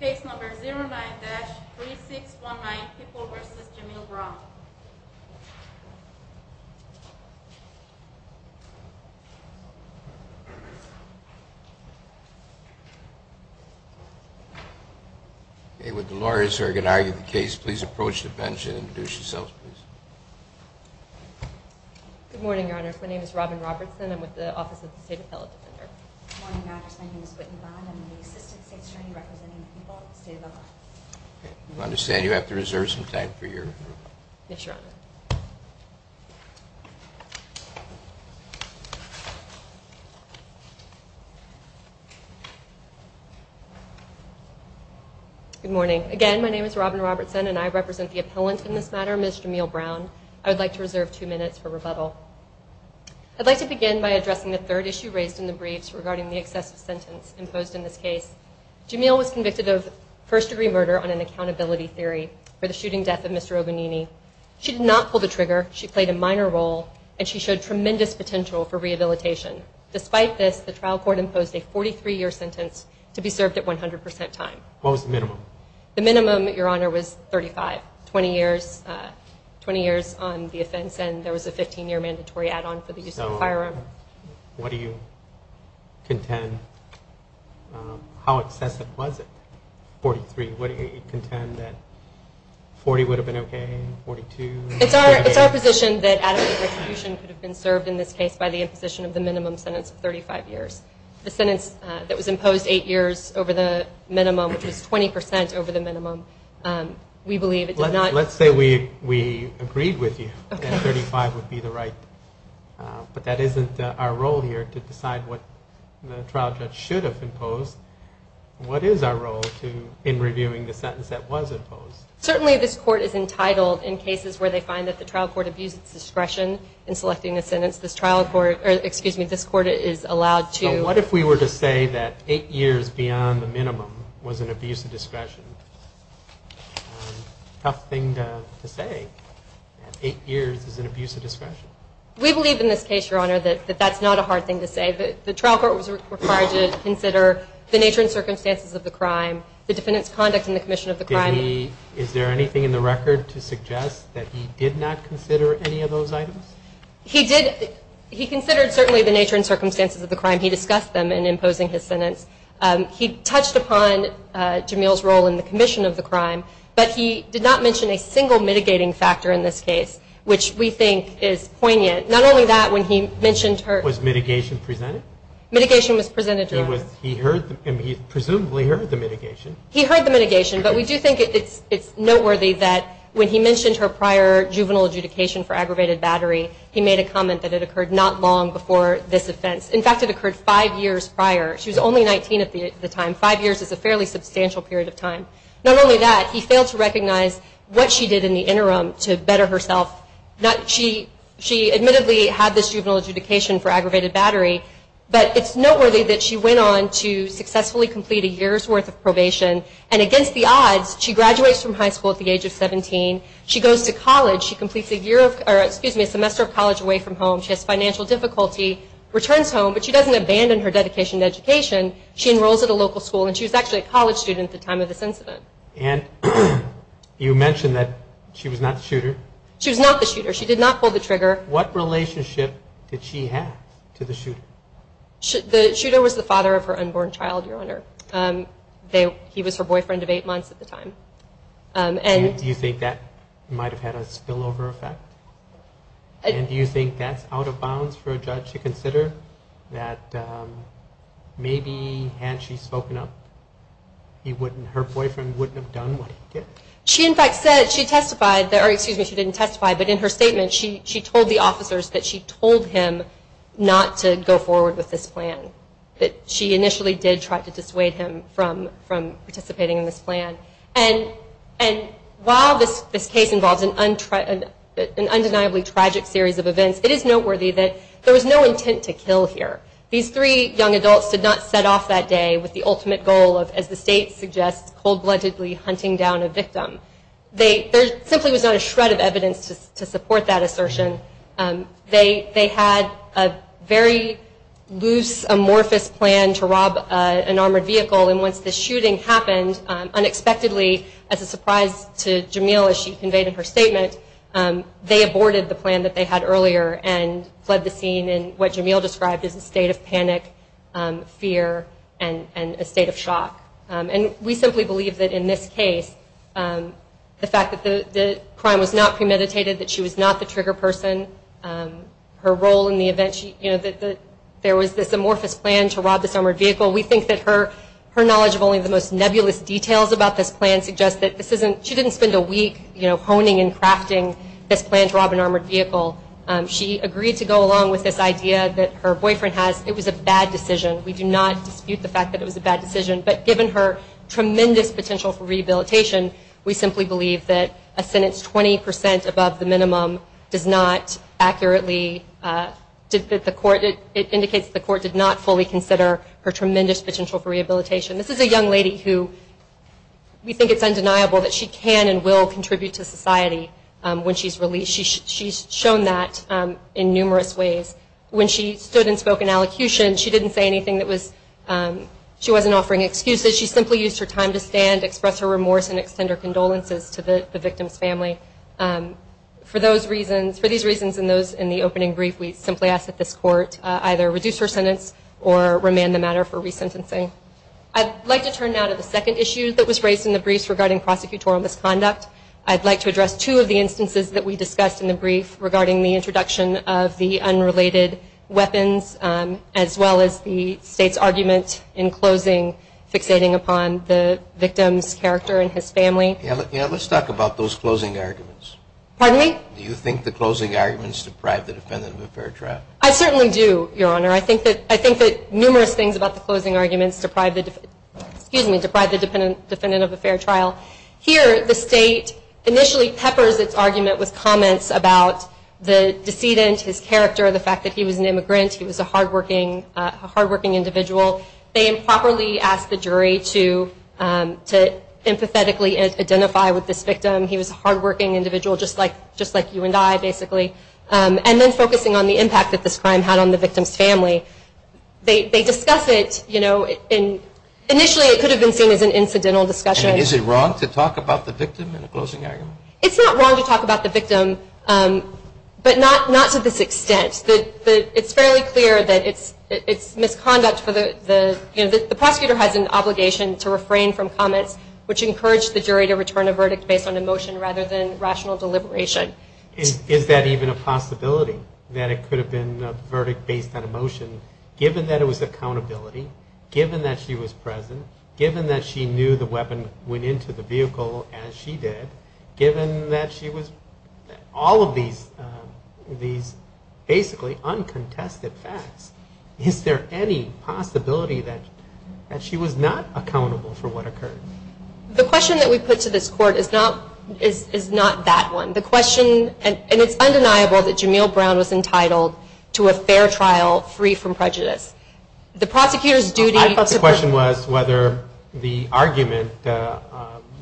Case No. 09-3619, People v. Jamil Brown Would the lawyers who are going to argue the case please approach the bench and introduce yourselves, please. Good morning, Your Honors. My name is Robin Robertson. I'm with the Office of the State Appellate Defender. Good morning, Your Honors. My name is Whitney Bond. I'm with the Assistant State Attorney representing the People at the State of Oklahoma. I understand you have to reserve some time for your group. Yes, Your Honor. Good morning. Again, my name is Robin Robertson, and I represent the appellant in this matter, Ms. Jamil Brown. I'd like to begin by addressing the third issue raised in the briefs regarding the excessive sentence imposed in this case. Jamil was convicted of first-degree murder on an accountability theory for the shooting death of Mr. Ogonini. She did not pull the trigger, she played a minor role, and she showed tremendous potential for rehabilitation. Despite this, the trial court imposed a 43-year sentence to be served at 100 percent time. What was the minimum? The minimum, Your Honor, was 35, 20 years on the offense, and there was a 15-year mandatory add-on for the use of a firearm. So what do you contend? How excessive was it, 43? What do you contend that 40 would have been okay and 42? It's our position that adequate retribution could have been served in this case by the imposition of the minimum sentence of 35 years. The sentence that was imposed eight years over the minimum, which was 20 percent over the minimum, we believe it did not Let's say we agreed with you that 35 would be the right, but that isn't our role here to decide what the trial judge should have imposed. What is our role in reviewing the sentence that was imposed? Certainly this court is entitled, in cases where they find that the trial court abuses discretion in selecting a sentence, this trial court, or excuse me, this court is allowed to So what if we were to say that eight years beyond the minimum was an abuse of discretion? Tough thing to say. Eight years is an abuse of discretion. We believe in this case, Your Honor, that that's not a hard thing to say. The trial court was required to consider the nature and circumstances of the crime, the defendant's conduct in the commission of the crime Is there anything in the record to suggest that he did not consider any of those items? He considered certainly the nature and circumstances of the crime. He discussed them in imposing his sentence. He touched upon Jamil's role in the commission of the crime, but he did not mention a single mitigating factor in this case, which we think is poignant. Not only that, when he mentioned her Was mitigation presented? Mitigation was presented, Your Honor. He presumably heard the mitigation. He heard the mitigation, but we do think it's noteworthy that when he mentioned her prior juvenile adjudication for aggravated battery, he made a comment that it occurred not long before this offense. In fact, it occurred five years prior. She was only 19 at the time. Five years is a fairly substantial period of time. Not only that, he failed to recognize what she did in the interim to better herself. She admittedly had this juvenile adjudication for aggravated battery, but it's noteworthy that she went on to successfully complete a year's worth of probation, and against the odds, she graduates from high school at the age of 17. She goes to college. She completes a semester of college away from home. She has financial difficulty, returns home, but she doesn't abandon her dedication to education. She enrolls at a local school, and she was actually a college student at the time of this incident. And you mentioned that she was not the shooter. She was not the shooter. She did not pull the trigger. What relationship did she have to the shooter? The shooter was the father of her unborn child, Your Honor. He was her boyfriend of eight months at the time. Do you think that might have had a spillover effect? And do you think that's out of bounds for a judge to consider, that maybe had she spoken up, her boyfriend wouldn't have done what he did? She, in fact, said she testified, or excuse me, she didn't testify, but in her statement she told the officers that she told him not to go forward with this plan, that she initially did try to dissuade him from participating in this plan. And while this case involves an undeniably tragic series of events, it is noteworthy that there was no intent to kill here. These three young adults did not set off that day with the ultimate goal of, as the state suggests, cold-bloodedly hunting down a victim. There simply was not a shred of evidence to support that assertion. They had a very loose, amorphous plan to rob an armored vehicle, and once the shooting happened, unexpectedly, as a surprise to Jamil, as she conveyed in her statement, they aborted the plan that they had earlier and fled the scene in what Jamil described as a state of panic, fear, and a state of shock. And we simply believe that in this case, the fact that the crime was not premeditated, that she was not the trigger person, her role in the event, that there was this amorphous plan to rob this armored vehicle, we think that her knowledge of only the most nebulous details about this plan suggests that she didn't spend a week honing and crafting this plan to rob an armored vehicle. She agreed to go along with this idea that her boyfriend has. It was a bad decision. We do not dispute the fact that it was a bad decision. But given her tremendous potential for rehabilitation, we simply believe that a sentence 20 percent above the minimum does not accurately, it indicates that the court did not fully consider her tremendous potential for rehabilitation. This is a young lady who we think it's undeniable that she can and will contribute to society when she's released. She's shown that in numerous ways. When she stood and spoke in allocution, she didn't say anything that was, she wasn't offering excuses. She simply used her time to stand, express her remorse, and extend her condolences to the victim's family. For those reasons, for these reasons and those in the opening brief, we simply ask that this court either reduce her sentence or remand the matter for resentencing. I'd like to turn now to the second issue that was raised in the briefs regarding prosecutorial misconduct. I'd like to address two of the instances that we discussed in the brief regarding the introduction of the unrelated weapons as well as the State's argument in closing fixating upon the victim's character and his family. Yeah, let's talk about those closing arguments. Pardon me? Do you think the closing arguments deprive the defendant of a fair trial? I certainly do, Your Honor. I think that numerous things about the closing arguments deprive the defendant of a fair trial. Here, the State initially peppers its argument with comments about the decedent, his character, the fact that he was an immigrant, he was a hardworking individual. They improperly ask the jury to empathetically identify with this victim. He was a hardworking individual, just like you and I, basically. And then focusing on the impact that this crime had on the victim's family. They discuss it. Initially, it could have been seen as an incidental discussion. Is it wrong to talk about the victim in a closing argument? It's not wrong to talk about the victim, but not to this extent. It's fairly clear that it's misconduct. The prosecutor has an obligation to refrain from comments, which encourage the jury to return a verdict based on emotion rather than rational deliberation. Is that even a possibility, that it could have been a verdict based on emotion, given that it was accountability, given that she was present, given that she knew the weapon went into the vehicle as she did, given that she was, all of these basically uncontested facts. Is there any possibility that she was not accountable for what occurred? The question that we put to this court is not that one. The question, and it's undeniable that Jameel Brown was entitled to a fair trial free from prejudice. The prosecutor's duty... The question was whether the argument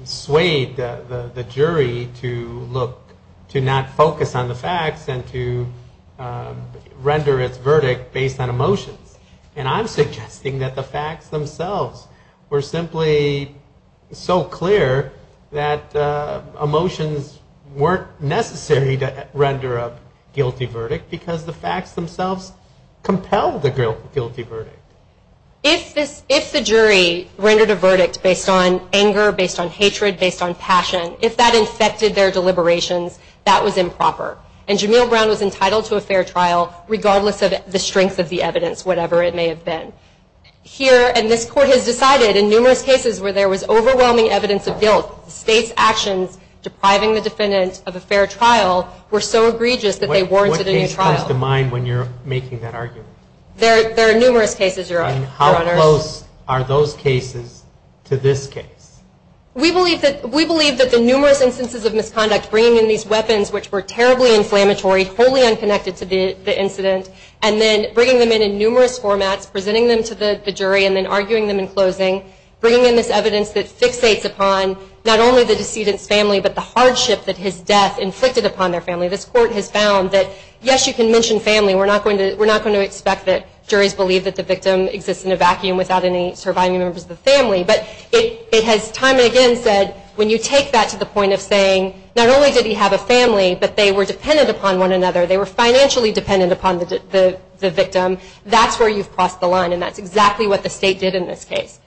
swayed the jury to look, to not focus on the facts and to render its verdict based on emotions. And I'm suggesting that the facts themselves were simply so clear that emotions weren't necessary to render a guilty verdict because the facts themselves compelled a guilty verdict. If the jury rendered a verdict based on anger, based on hatred, based on passion, if that infected their deliberations, that was improper. And Jameel Brown was entitled to a fair trial regardless of the strength of the evidence, whatever it may have been. Here, and this court has decided in numerous cases where there was overwhelming evidence of guilt, the state's actions depriving the defendant of a fair trial were so egregious that they warranted a new trial. What case comes to mind when you're making that argument? There are numerous cases, Your Honor. And how close are those cases to this case? We believe that the numerous instances of misconduct, bringing in these weapons which were terribly inflammatory, wholly unconnected to the incident, and then bringing them in in numerous formats, presenting them to the jury and then arguing them in closing, bringing in this evidence that fixates upon not only the decedent's family but the hardship that his death inflicted upon their family. This court has found that, yes, you can mention family. We're not going to expect that juries believe that the victim exists in a vacuum without any surviving members of the family. But it has time and again said, when you take that to the point of saying, not only did he have a family, but they were dependent upon one another, they were financially dependent upon the victim, that's where you've crossed the line. And that's exactly what the state did in this case.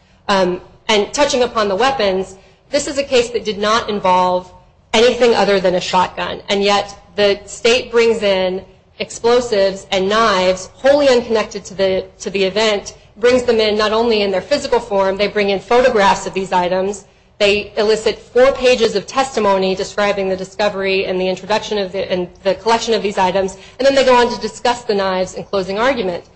And touching upon the weapons, this is a case that did not involve anything other than a shotgun. And yet the state brings in explosives and knives, wholly unconnected to the event, brings them in not only in their physical form, they bring in photographs of these items, they elicit four pages of testimony describing the discovery and the collection of these items, and then they go on to discuss the knives in closing argument.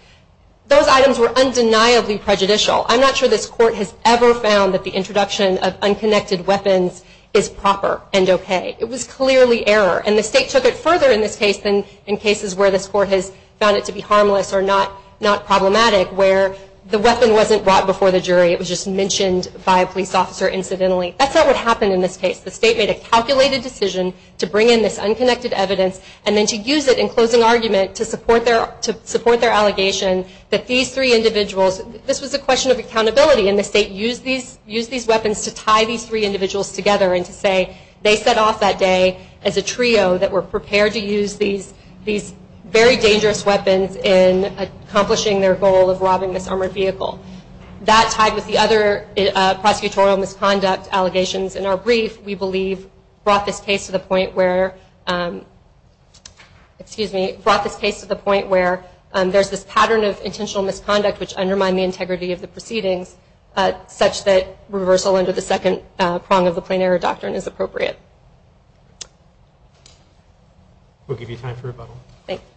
Those items were undeniably prejudicial. I'm not sure this court has ever found that the introduction of unconnected weapons is proper and okay. It was clearly error. And the state took it further in this case than in cases where this court has found it to be harmless or not problematic, where the weapon wasn't brought before the jury, it was just mentioned by a police officer incidentally. That's not what happened in this case. The state made a calculated decision to bring in this unconnected evidence and then to use it in closing argument to support their allegation that these three individuals, this was a question of accountability, and the state used these weapons to tie these three individuals together and to say they set off that day as a trio that were prepared to use these very dangerous weapons in accomplishing their goal of robbing this armored vehicle. That, tied with the other prosecutorial misconduct allegations in our brief, we believe brought this case to the point where there's this pattern of intentional misconduct which undermine the integrity of the proceedings such that reversal under the second prong of the plain error doctrine is appropriate. We'll give you time for rebuttal. Thank you.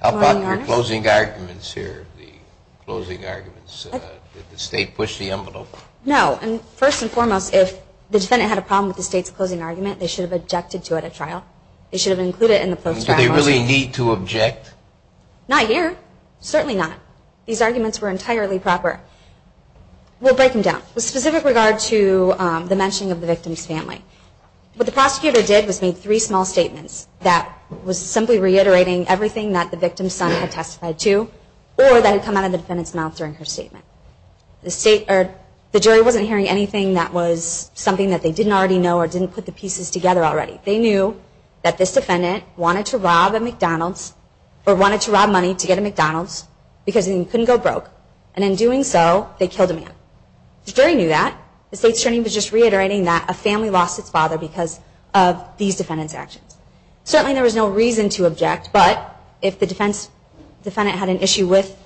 How about your closing arguments here, the closing arguments? Did the state push the envelope? No. First and foremost, if the defendant had a problem with the state's closing argument, they should have objected to it at trial. They should have included it in the post-trial version. Do they really need to object? Not here. Certainly not. These arguments were entirely proper. We'll break them down. With specific regard to the mentioning of the victim's family, what the prosecutor did was make three small statements that was simply reiterating everything that the victim's son had testified to or that had come out of the defendant's mouth during her statement. The jury wasn't hearing anything that was something that they didn't already know or didn't put the pieces together already. They knew that this defendant wanted to rob a McDonald's or wanted to rob money to get a McDonald's because he couldn't go broke, and in doing so, they killed a man. The jury knew that. The state's attorney was just reiterating that a family lost its father because of these defendant's actions. Certainly there was no reason to object, but if the defendant had an issue with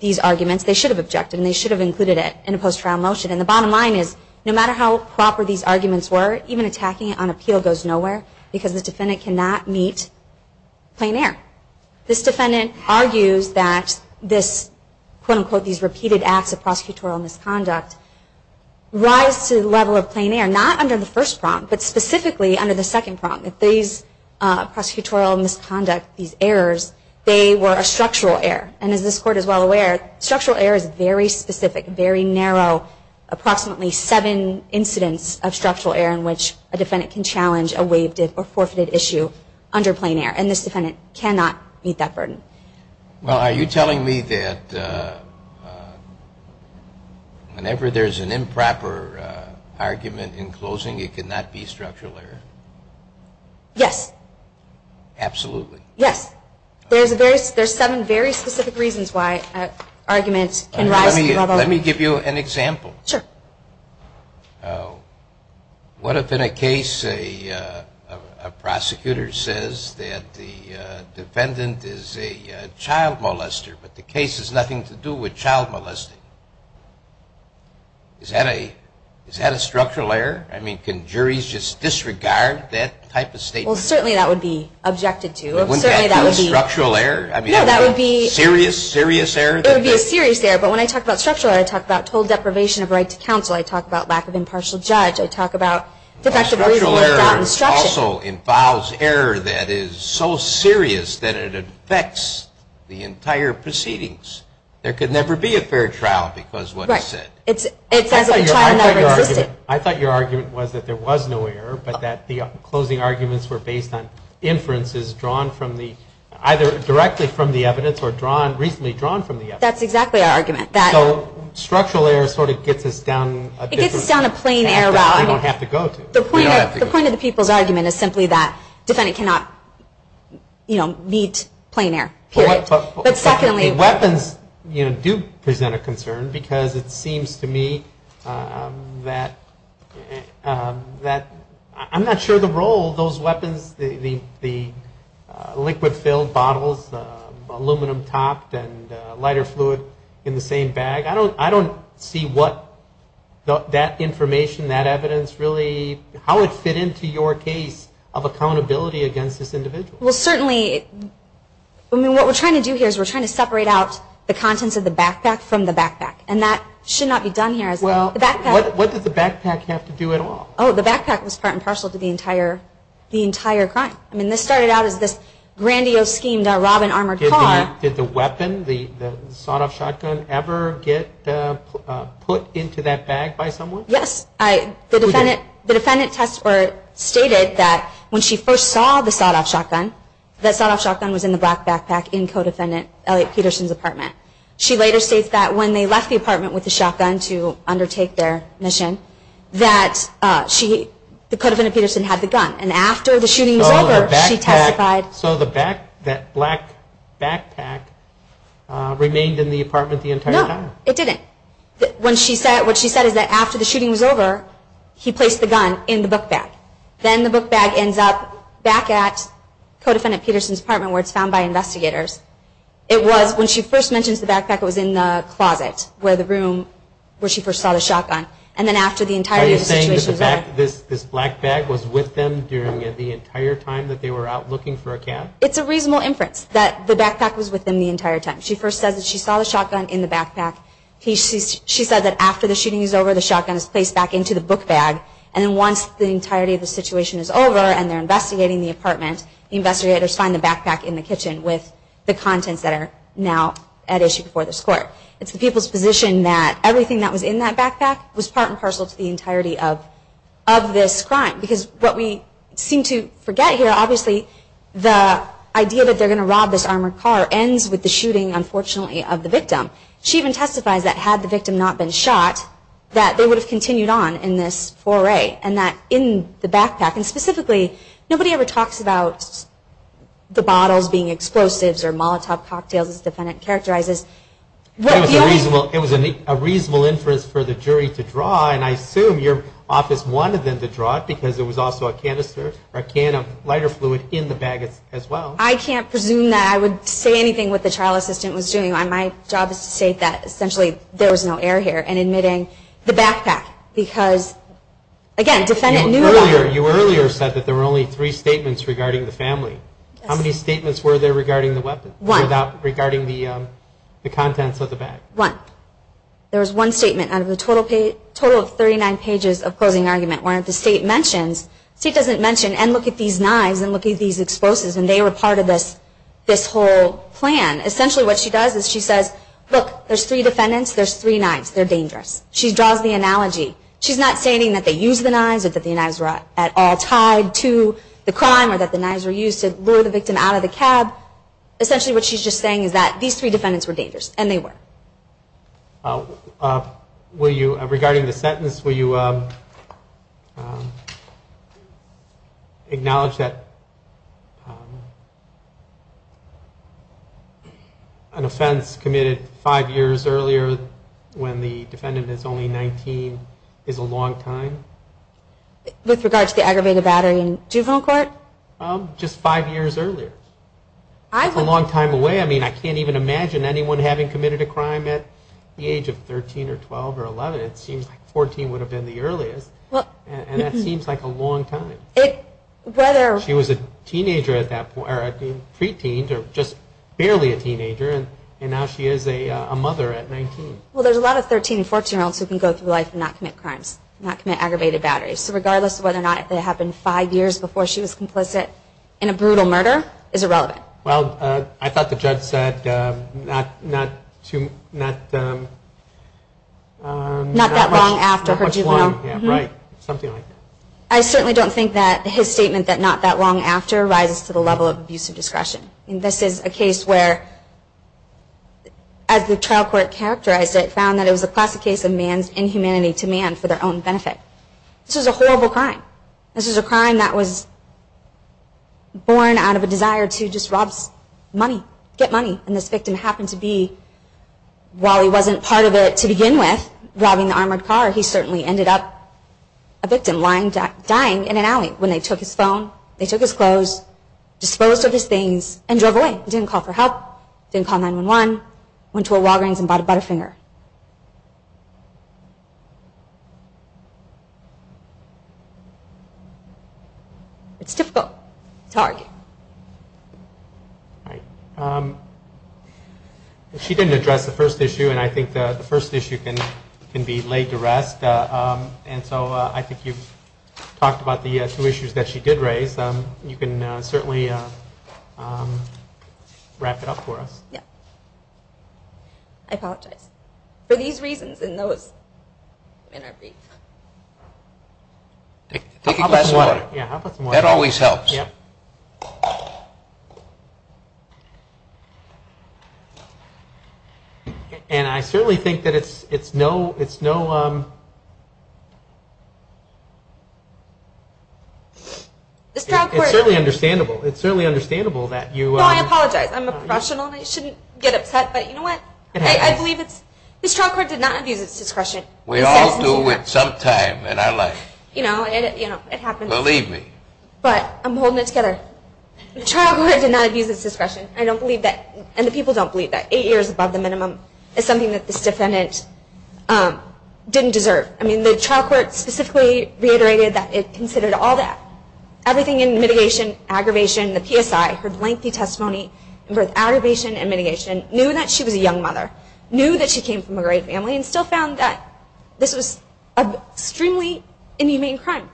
these arguments, they should have objected and they should have included it in a post-trial motion. The bottom line is, no matter how proper these arguments were, even attacking it on appeal goes nowhere because the defendant cannot meet plain air. This defendant argues that this, quote-unquote, these repeated acts of prosecutorial misconduct rise to the level of plain air, not under the first prompt, but specifically under the second prompt. These prosecutorial misconduct, these errors, they were a structural error, and as this Court is well aware, structural error is very specific, very narrow, approximately seven incidents of structural error in which a defendant can challenge a waived or forfeited issue under plain air, and this defendant cannot meet that burden. Well, are you telling me that whenever there's an improper argument in closing, it cannot be a structural error? Yes. Absolutely. Yes. There's seven very specific reasons why arguments can rise to the level. Let me give you an example. Sure. What if in a case a prosecutor says that the defendant is a child molester, but the case has nothing to do with child molesting? Is that a structural error? I mean, can juries just disregard that type of statement? Well, certainly that would be objected to. Wouldn't that be a structural error? No, that would be a serious, serious error. It would be a serious error, but when I talk about structural error, I talk about total deprivation of right to counsel. I talk about lack of impartial judge. I talk about defective legal instruction. Structural error also involves error that is so serious that it affects the entire proceedings. There could never be a fair trial because what is said. Right. It's as if the child never existed. I thought your argument was that there was no error, but that the closing arguments were based on inferences drawn either directly from the evidence or recently drawn from the evidence. That's exactly our argument. So structural error sort of gets us down a different path. It gets us down a plain error route. We don't have to go to. The point of the people's argument is simply that the defendant cannot meet plain error, period. Weapons do present a concern because it seems to me that I'm not sure the role those weapons, the liquid filled bottles, aluminum topped and lighter fluid in the same bag, I don't see what that information, that evidence really, how it fit into your case of accountability against this individual. Well, certainly what we're trying to do here is we're trying to separate out the contents of the backpack from the backpack, and that should not be done here. What did the backpack have to do at all? Oh, the backpack was part and parcel to the entire crime. I mean, this started out as this grandiose scheme, the robin armored car. Did the weapon, the sawed off shotgun, ever get put into that bag by someone? Yes. The defendant stated that when she first saw the sawed off shotgun, that sawed off shotgun was in the black backpack in co-defendant Elliot Peterson's apartment. She later states that when they left the apartment with the shotgun to undertake their mission, that the co-defendant Peterson had the gun. And after the shooting was over, she testified. So that black backpack remained in the apartment the entire time? No, it didn't. What she said is that after the shooting was over, he placed the gun in the book bag. Then the book bag ends up back at co-defendant Peterson's apartment where it's found by investigators. It was when she first mentions the backpack, it was in the closet where the room where she first saw the shotgun. Are you saying that this black bag was with them during the entire time that they were out looking for a cab? It's a reasonable inference that the backpack was with them the entire time. She first says that she saw the shotgun in the backpack. She said that after the shooting was over, the shotgun was placed back into the book bag. And once the entirety of the situation is over and they're investigating the apartment, investigators find the backpack in the kitchen with the contents that are now at issue before this court. It's the people's position that everything that was in that backpack was part and parcel to the entirety of this crime. Because what we seem to forget here, obviously, the idea that they're going to rob this armored car ends with the shooting, unfortunately, of the victim. She even testifies that had the victim not been shot, that they would have continued on in this foray. And that in the backpack, and specifically, nobody ever talks about the bottles being explosives or Molotov cocktails as the defendant characterizes. It was a reasonable inference for the jury to draw, and I assume your office wanted them to draw it because it was also a canister or a can of lighter fluid in the bag as well. I can't presume that I would say anything what the trial assistant was doing. My job is to state that essentially there was no error here in admitting the backpack. Because, again, defendant knew about it. You earlier said that there were only three statements regarding the family. Yes. How many statements were there regarding the weapons? One. Regarding the contents of the bag. One. There was one statement out of the total of 39 pages of closing argument. One of the state mentions, state doesn't mention, and look at these knives and look at these explosives, and they were part of this whole plan. Essentially what she does is she says, look, there's three defendants, there's three knives. They're dangerous. She draws the analogy. She's not saying that they used the knives or that the knives were at all tied to the crime or that the knives were used to lure the victim out of the cab. Essentially what she's just saying is that these three defendants were dangerous, and they were. Regarding the sentence, will you acknowledge that an offense committed five years earlier when the defendant is only 19 is a long time? With regard to the aggravated battery in juvenile court? Just five years earlier. That's a long time away. I mean, I can't even imagine anyone having committed a crime at the age of 13 or 12 or 11. It seems like 14 would have been the earliest, and that seems like a long time. She was a teenager at that point, or a pre-teen, or just barely a teenager, and now she is a mother at 19. Well, there's a lot of 13 and 14-year-olds who can go through life and not commit crimes, not commit aggravated batteries. So regardless of whether or not it happened five years before she was complicit in a brutal murder is irrelevant. Well, I thought the judge said not that long after her juvenile. Right, something like that. I certainly don't think that his statement that not that long after rises to the level of abusive discretion. This is a case where, as the trial court characterized it, found that it was a classic case of man's inhumanity to man for their own benefit. This is a horrible crime. This is a crime that was born out of a desire to just rob money, get money. And this victim happened to be, while he wasn't part of it to begin with, robbing the armored car, he certainly ended up a victim, dying in an alley when they took his phone, they took his clothes, disposed of his things, and drove away. He didn't call for help, didn't call 911, went to a Walgreens and bought a Butterfinger. It's difficult to argue. She didn't address the first issue, and I think the first issue can be laid to rest. And so I think you've talked about the two issues that she did raise. You can certainly wrap it up for us. I apologize. For these reasons and those in our brief. I'll put some water on it. That always helps. And I certainly think that it's no... It's certainly understandable that you... I shouldn't get upset, but you know what? I believe it's... This trial court did not abuse its discretion. We all do it sometime in our life. You know, it happens. Believe me. But I'm holding it together. The trial court did not abuse its discretion. I don't believe that, and the people don't believe that. Eight years above the minimum is something that this defendant didn't deserve. I mean, the trial court specifically reiterated that it considered all that. Her lengthy testimony in both aggravation and mitigation knew that she was a young mother, knew that she came from a great family, and still found that this was an extremely inhumane crime.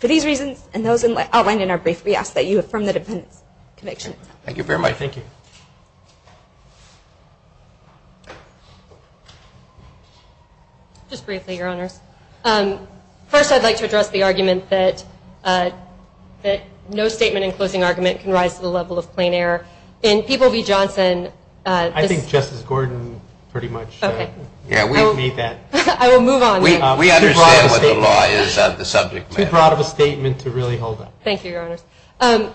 For these reasons and those outlined in our brief, we ask that you affirm the defendant's conviction. Thank you very much. Thank you. Just briefly, Your Honors. First, I'd like to address the argument that no statement in closing argument can rise to the level of plain error. In People v. Johnson, this... I think Justice Gordon pretty much made that... I will move on then. We understand what the law is on the subject matter. Too broad of a statement to really hold up. Thank you, Your Honors.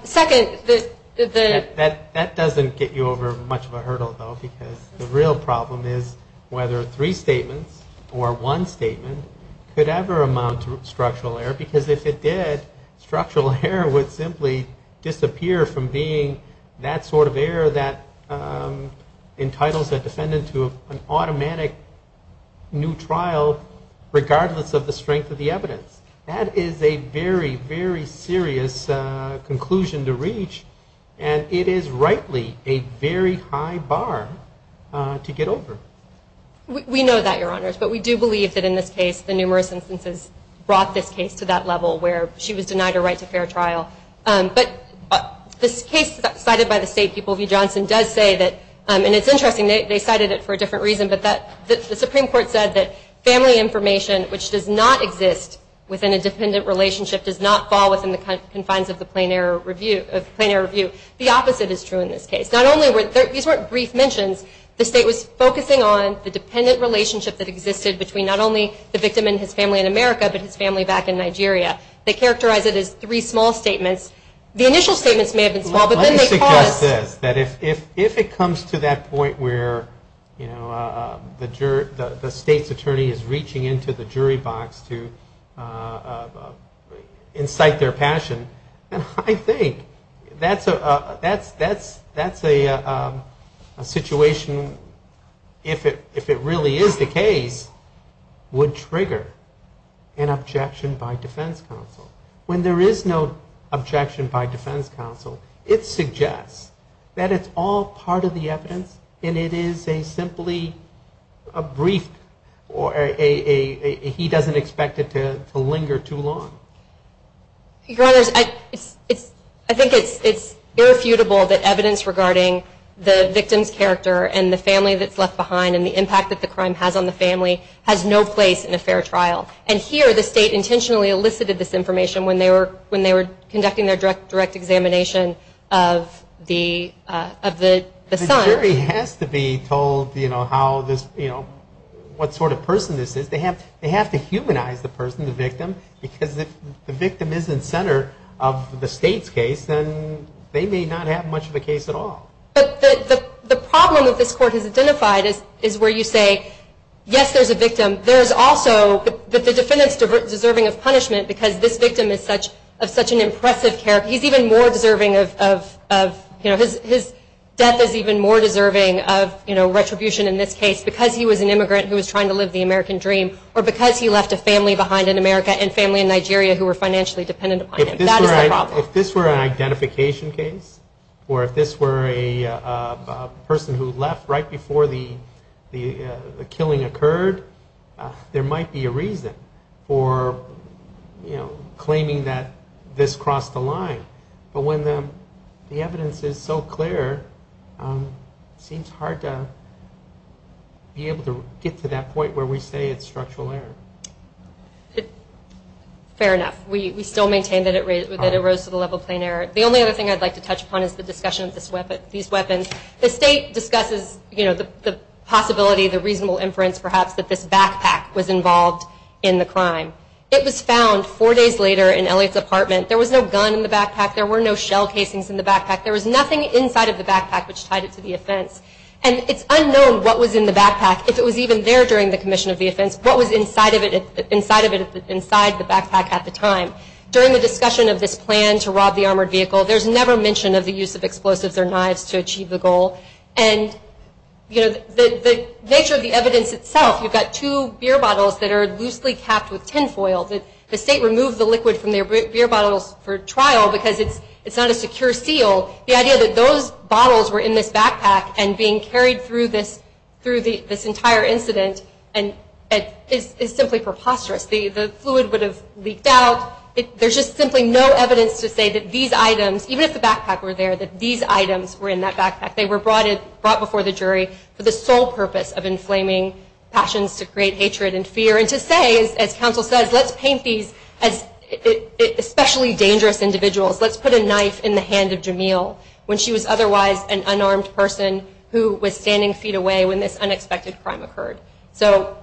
Second, the... That doesn't get you over much of a hurdle, though, because the real problem is whether three statements or one statement could ever amount to structural error, because if it did, structural error would simply disappear from being that sort of error that entitles a defendant to an automatic new trial, regardless of the strength of the evidence. That is a very, very serious conclusion to reach, and it is rightly a very high bar to get over. We know that, Your Honors, but we do believe that in this case the numerous instances brought this case to that level where she was denied her right to fair trial. But this case cited by the State, People v. Johnson, does say that... And it's interesting, they cited it for a different reason, but the Supreme Court said that family information, which does not exist within a dependent relationship, does not fall within the confines of the plain error review. The opposite is true in this case. Not only were... These weren't brief mentions. The State was focusing on the dependent relationship that existed between not only the victim and his family in America, but his family back in Nigeria. They characterized it as three small statements. The initial statements may have been small, but then they caused... Let me suggest this, that if it comes to that point where the State's attorney is reaching into the jury box to incite their passion, then I think that's a situation, if it really is the case, would trigger an objection by defense counsel. When there is no objection by defense counsel, it suggests that it's all part of the evidence and it is simply a brief. He doesn't expect it to linger too long. Your Honor, I think it's irrefutable that evidence regarding the victim's character and the family that's left behind and the impact that the crime has on the family has no place in a fair trial. And here the State intentionally elicited this information when they were conducting their direct examination of the son. The jury has to be told what sort of person this is. They have to humanize the person, the victim, because if the victim isn't center of the State's case, then they may not have much of a case at all. But the problem that this Court has identified is where you say, yes, there's a victim. There's also the defendant's deserving of punishment because this victim is such an impressive character. He's even more deserving of his death is even more deserving of retribution in this case because he was an immigrant who was trying to live the American dream or because he left a family behind in America and family in Nigeria who were financially dependent upon him. That is the problem. If this were an identification case or if this were a person who left right before the killing occurred, there might be a reason for claiming that this crossed the line. But when the evidence is so clear, it seems hard to be able to get to that point where we say it's structural error. Fair enough. We still maintain that it arose to the level of plain error. The only other thing I'd like to touch upon is the discussion of these weapons. The State discusses the possibility, the reasonable inference perhaps, that this backpack was involved in the crime. It was found four days later in Elliot's apartment. There was no gun in the backpack. There were no shell casings in the backpack. There was nothing inside of the backpack which tied it to the offense. And it's unknown what was in the backpack, if it was even there during the commission of the offense, what was inside of it inside the backpack at the time. During the discussion of this plan to rob the armored vehicle, there's never mention of the use of explosives or knives to achieve the goal. And, you know, the nature of the evidence itself, you've got two beer bottles that are loosely capped with tin foil. The State removed the liquid from their beer bottles for trial because it's not a secure seal. The idea that those bottles were in this backpack and being carried through this entire incident is simply preposterous. The fluid would have leaked out. There's just simply no evidence to say that these items, even if the backpack were there, that these items were in that backpack. They were brought before the jury for the sole purpose of inflaming passions to create hatred and fear and to say, as counsel says, let's paint these as especially dangerous individuals. Let's put a knife in the hand of Jamil when she was otherwise an unarmed person who was standing feet away when this unexpected crime occurred. So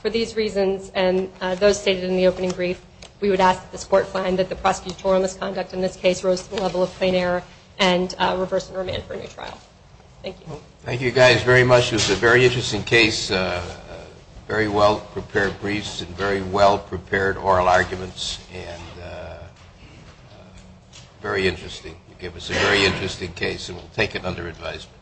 for these reasons and those stated in the opening brief, we would ask that this court find that the prosecutorial misconduct in this case rose to the level of plain error and reverse the remand for a new trial. Thank you. Thank you guys very much. It was a very interesting case, very well-prepared briefs and very well-prepared oral arguments and very interesting. You gave us a very interesting case and we'll take it under advisement.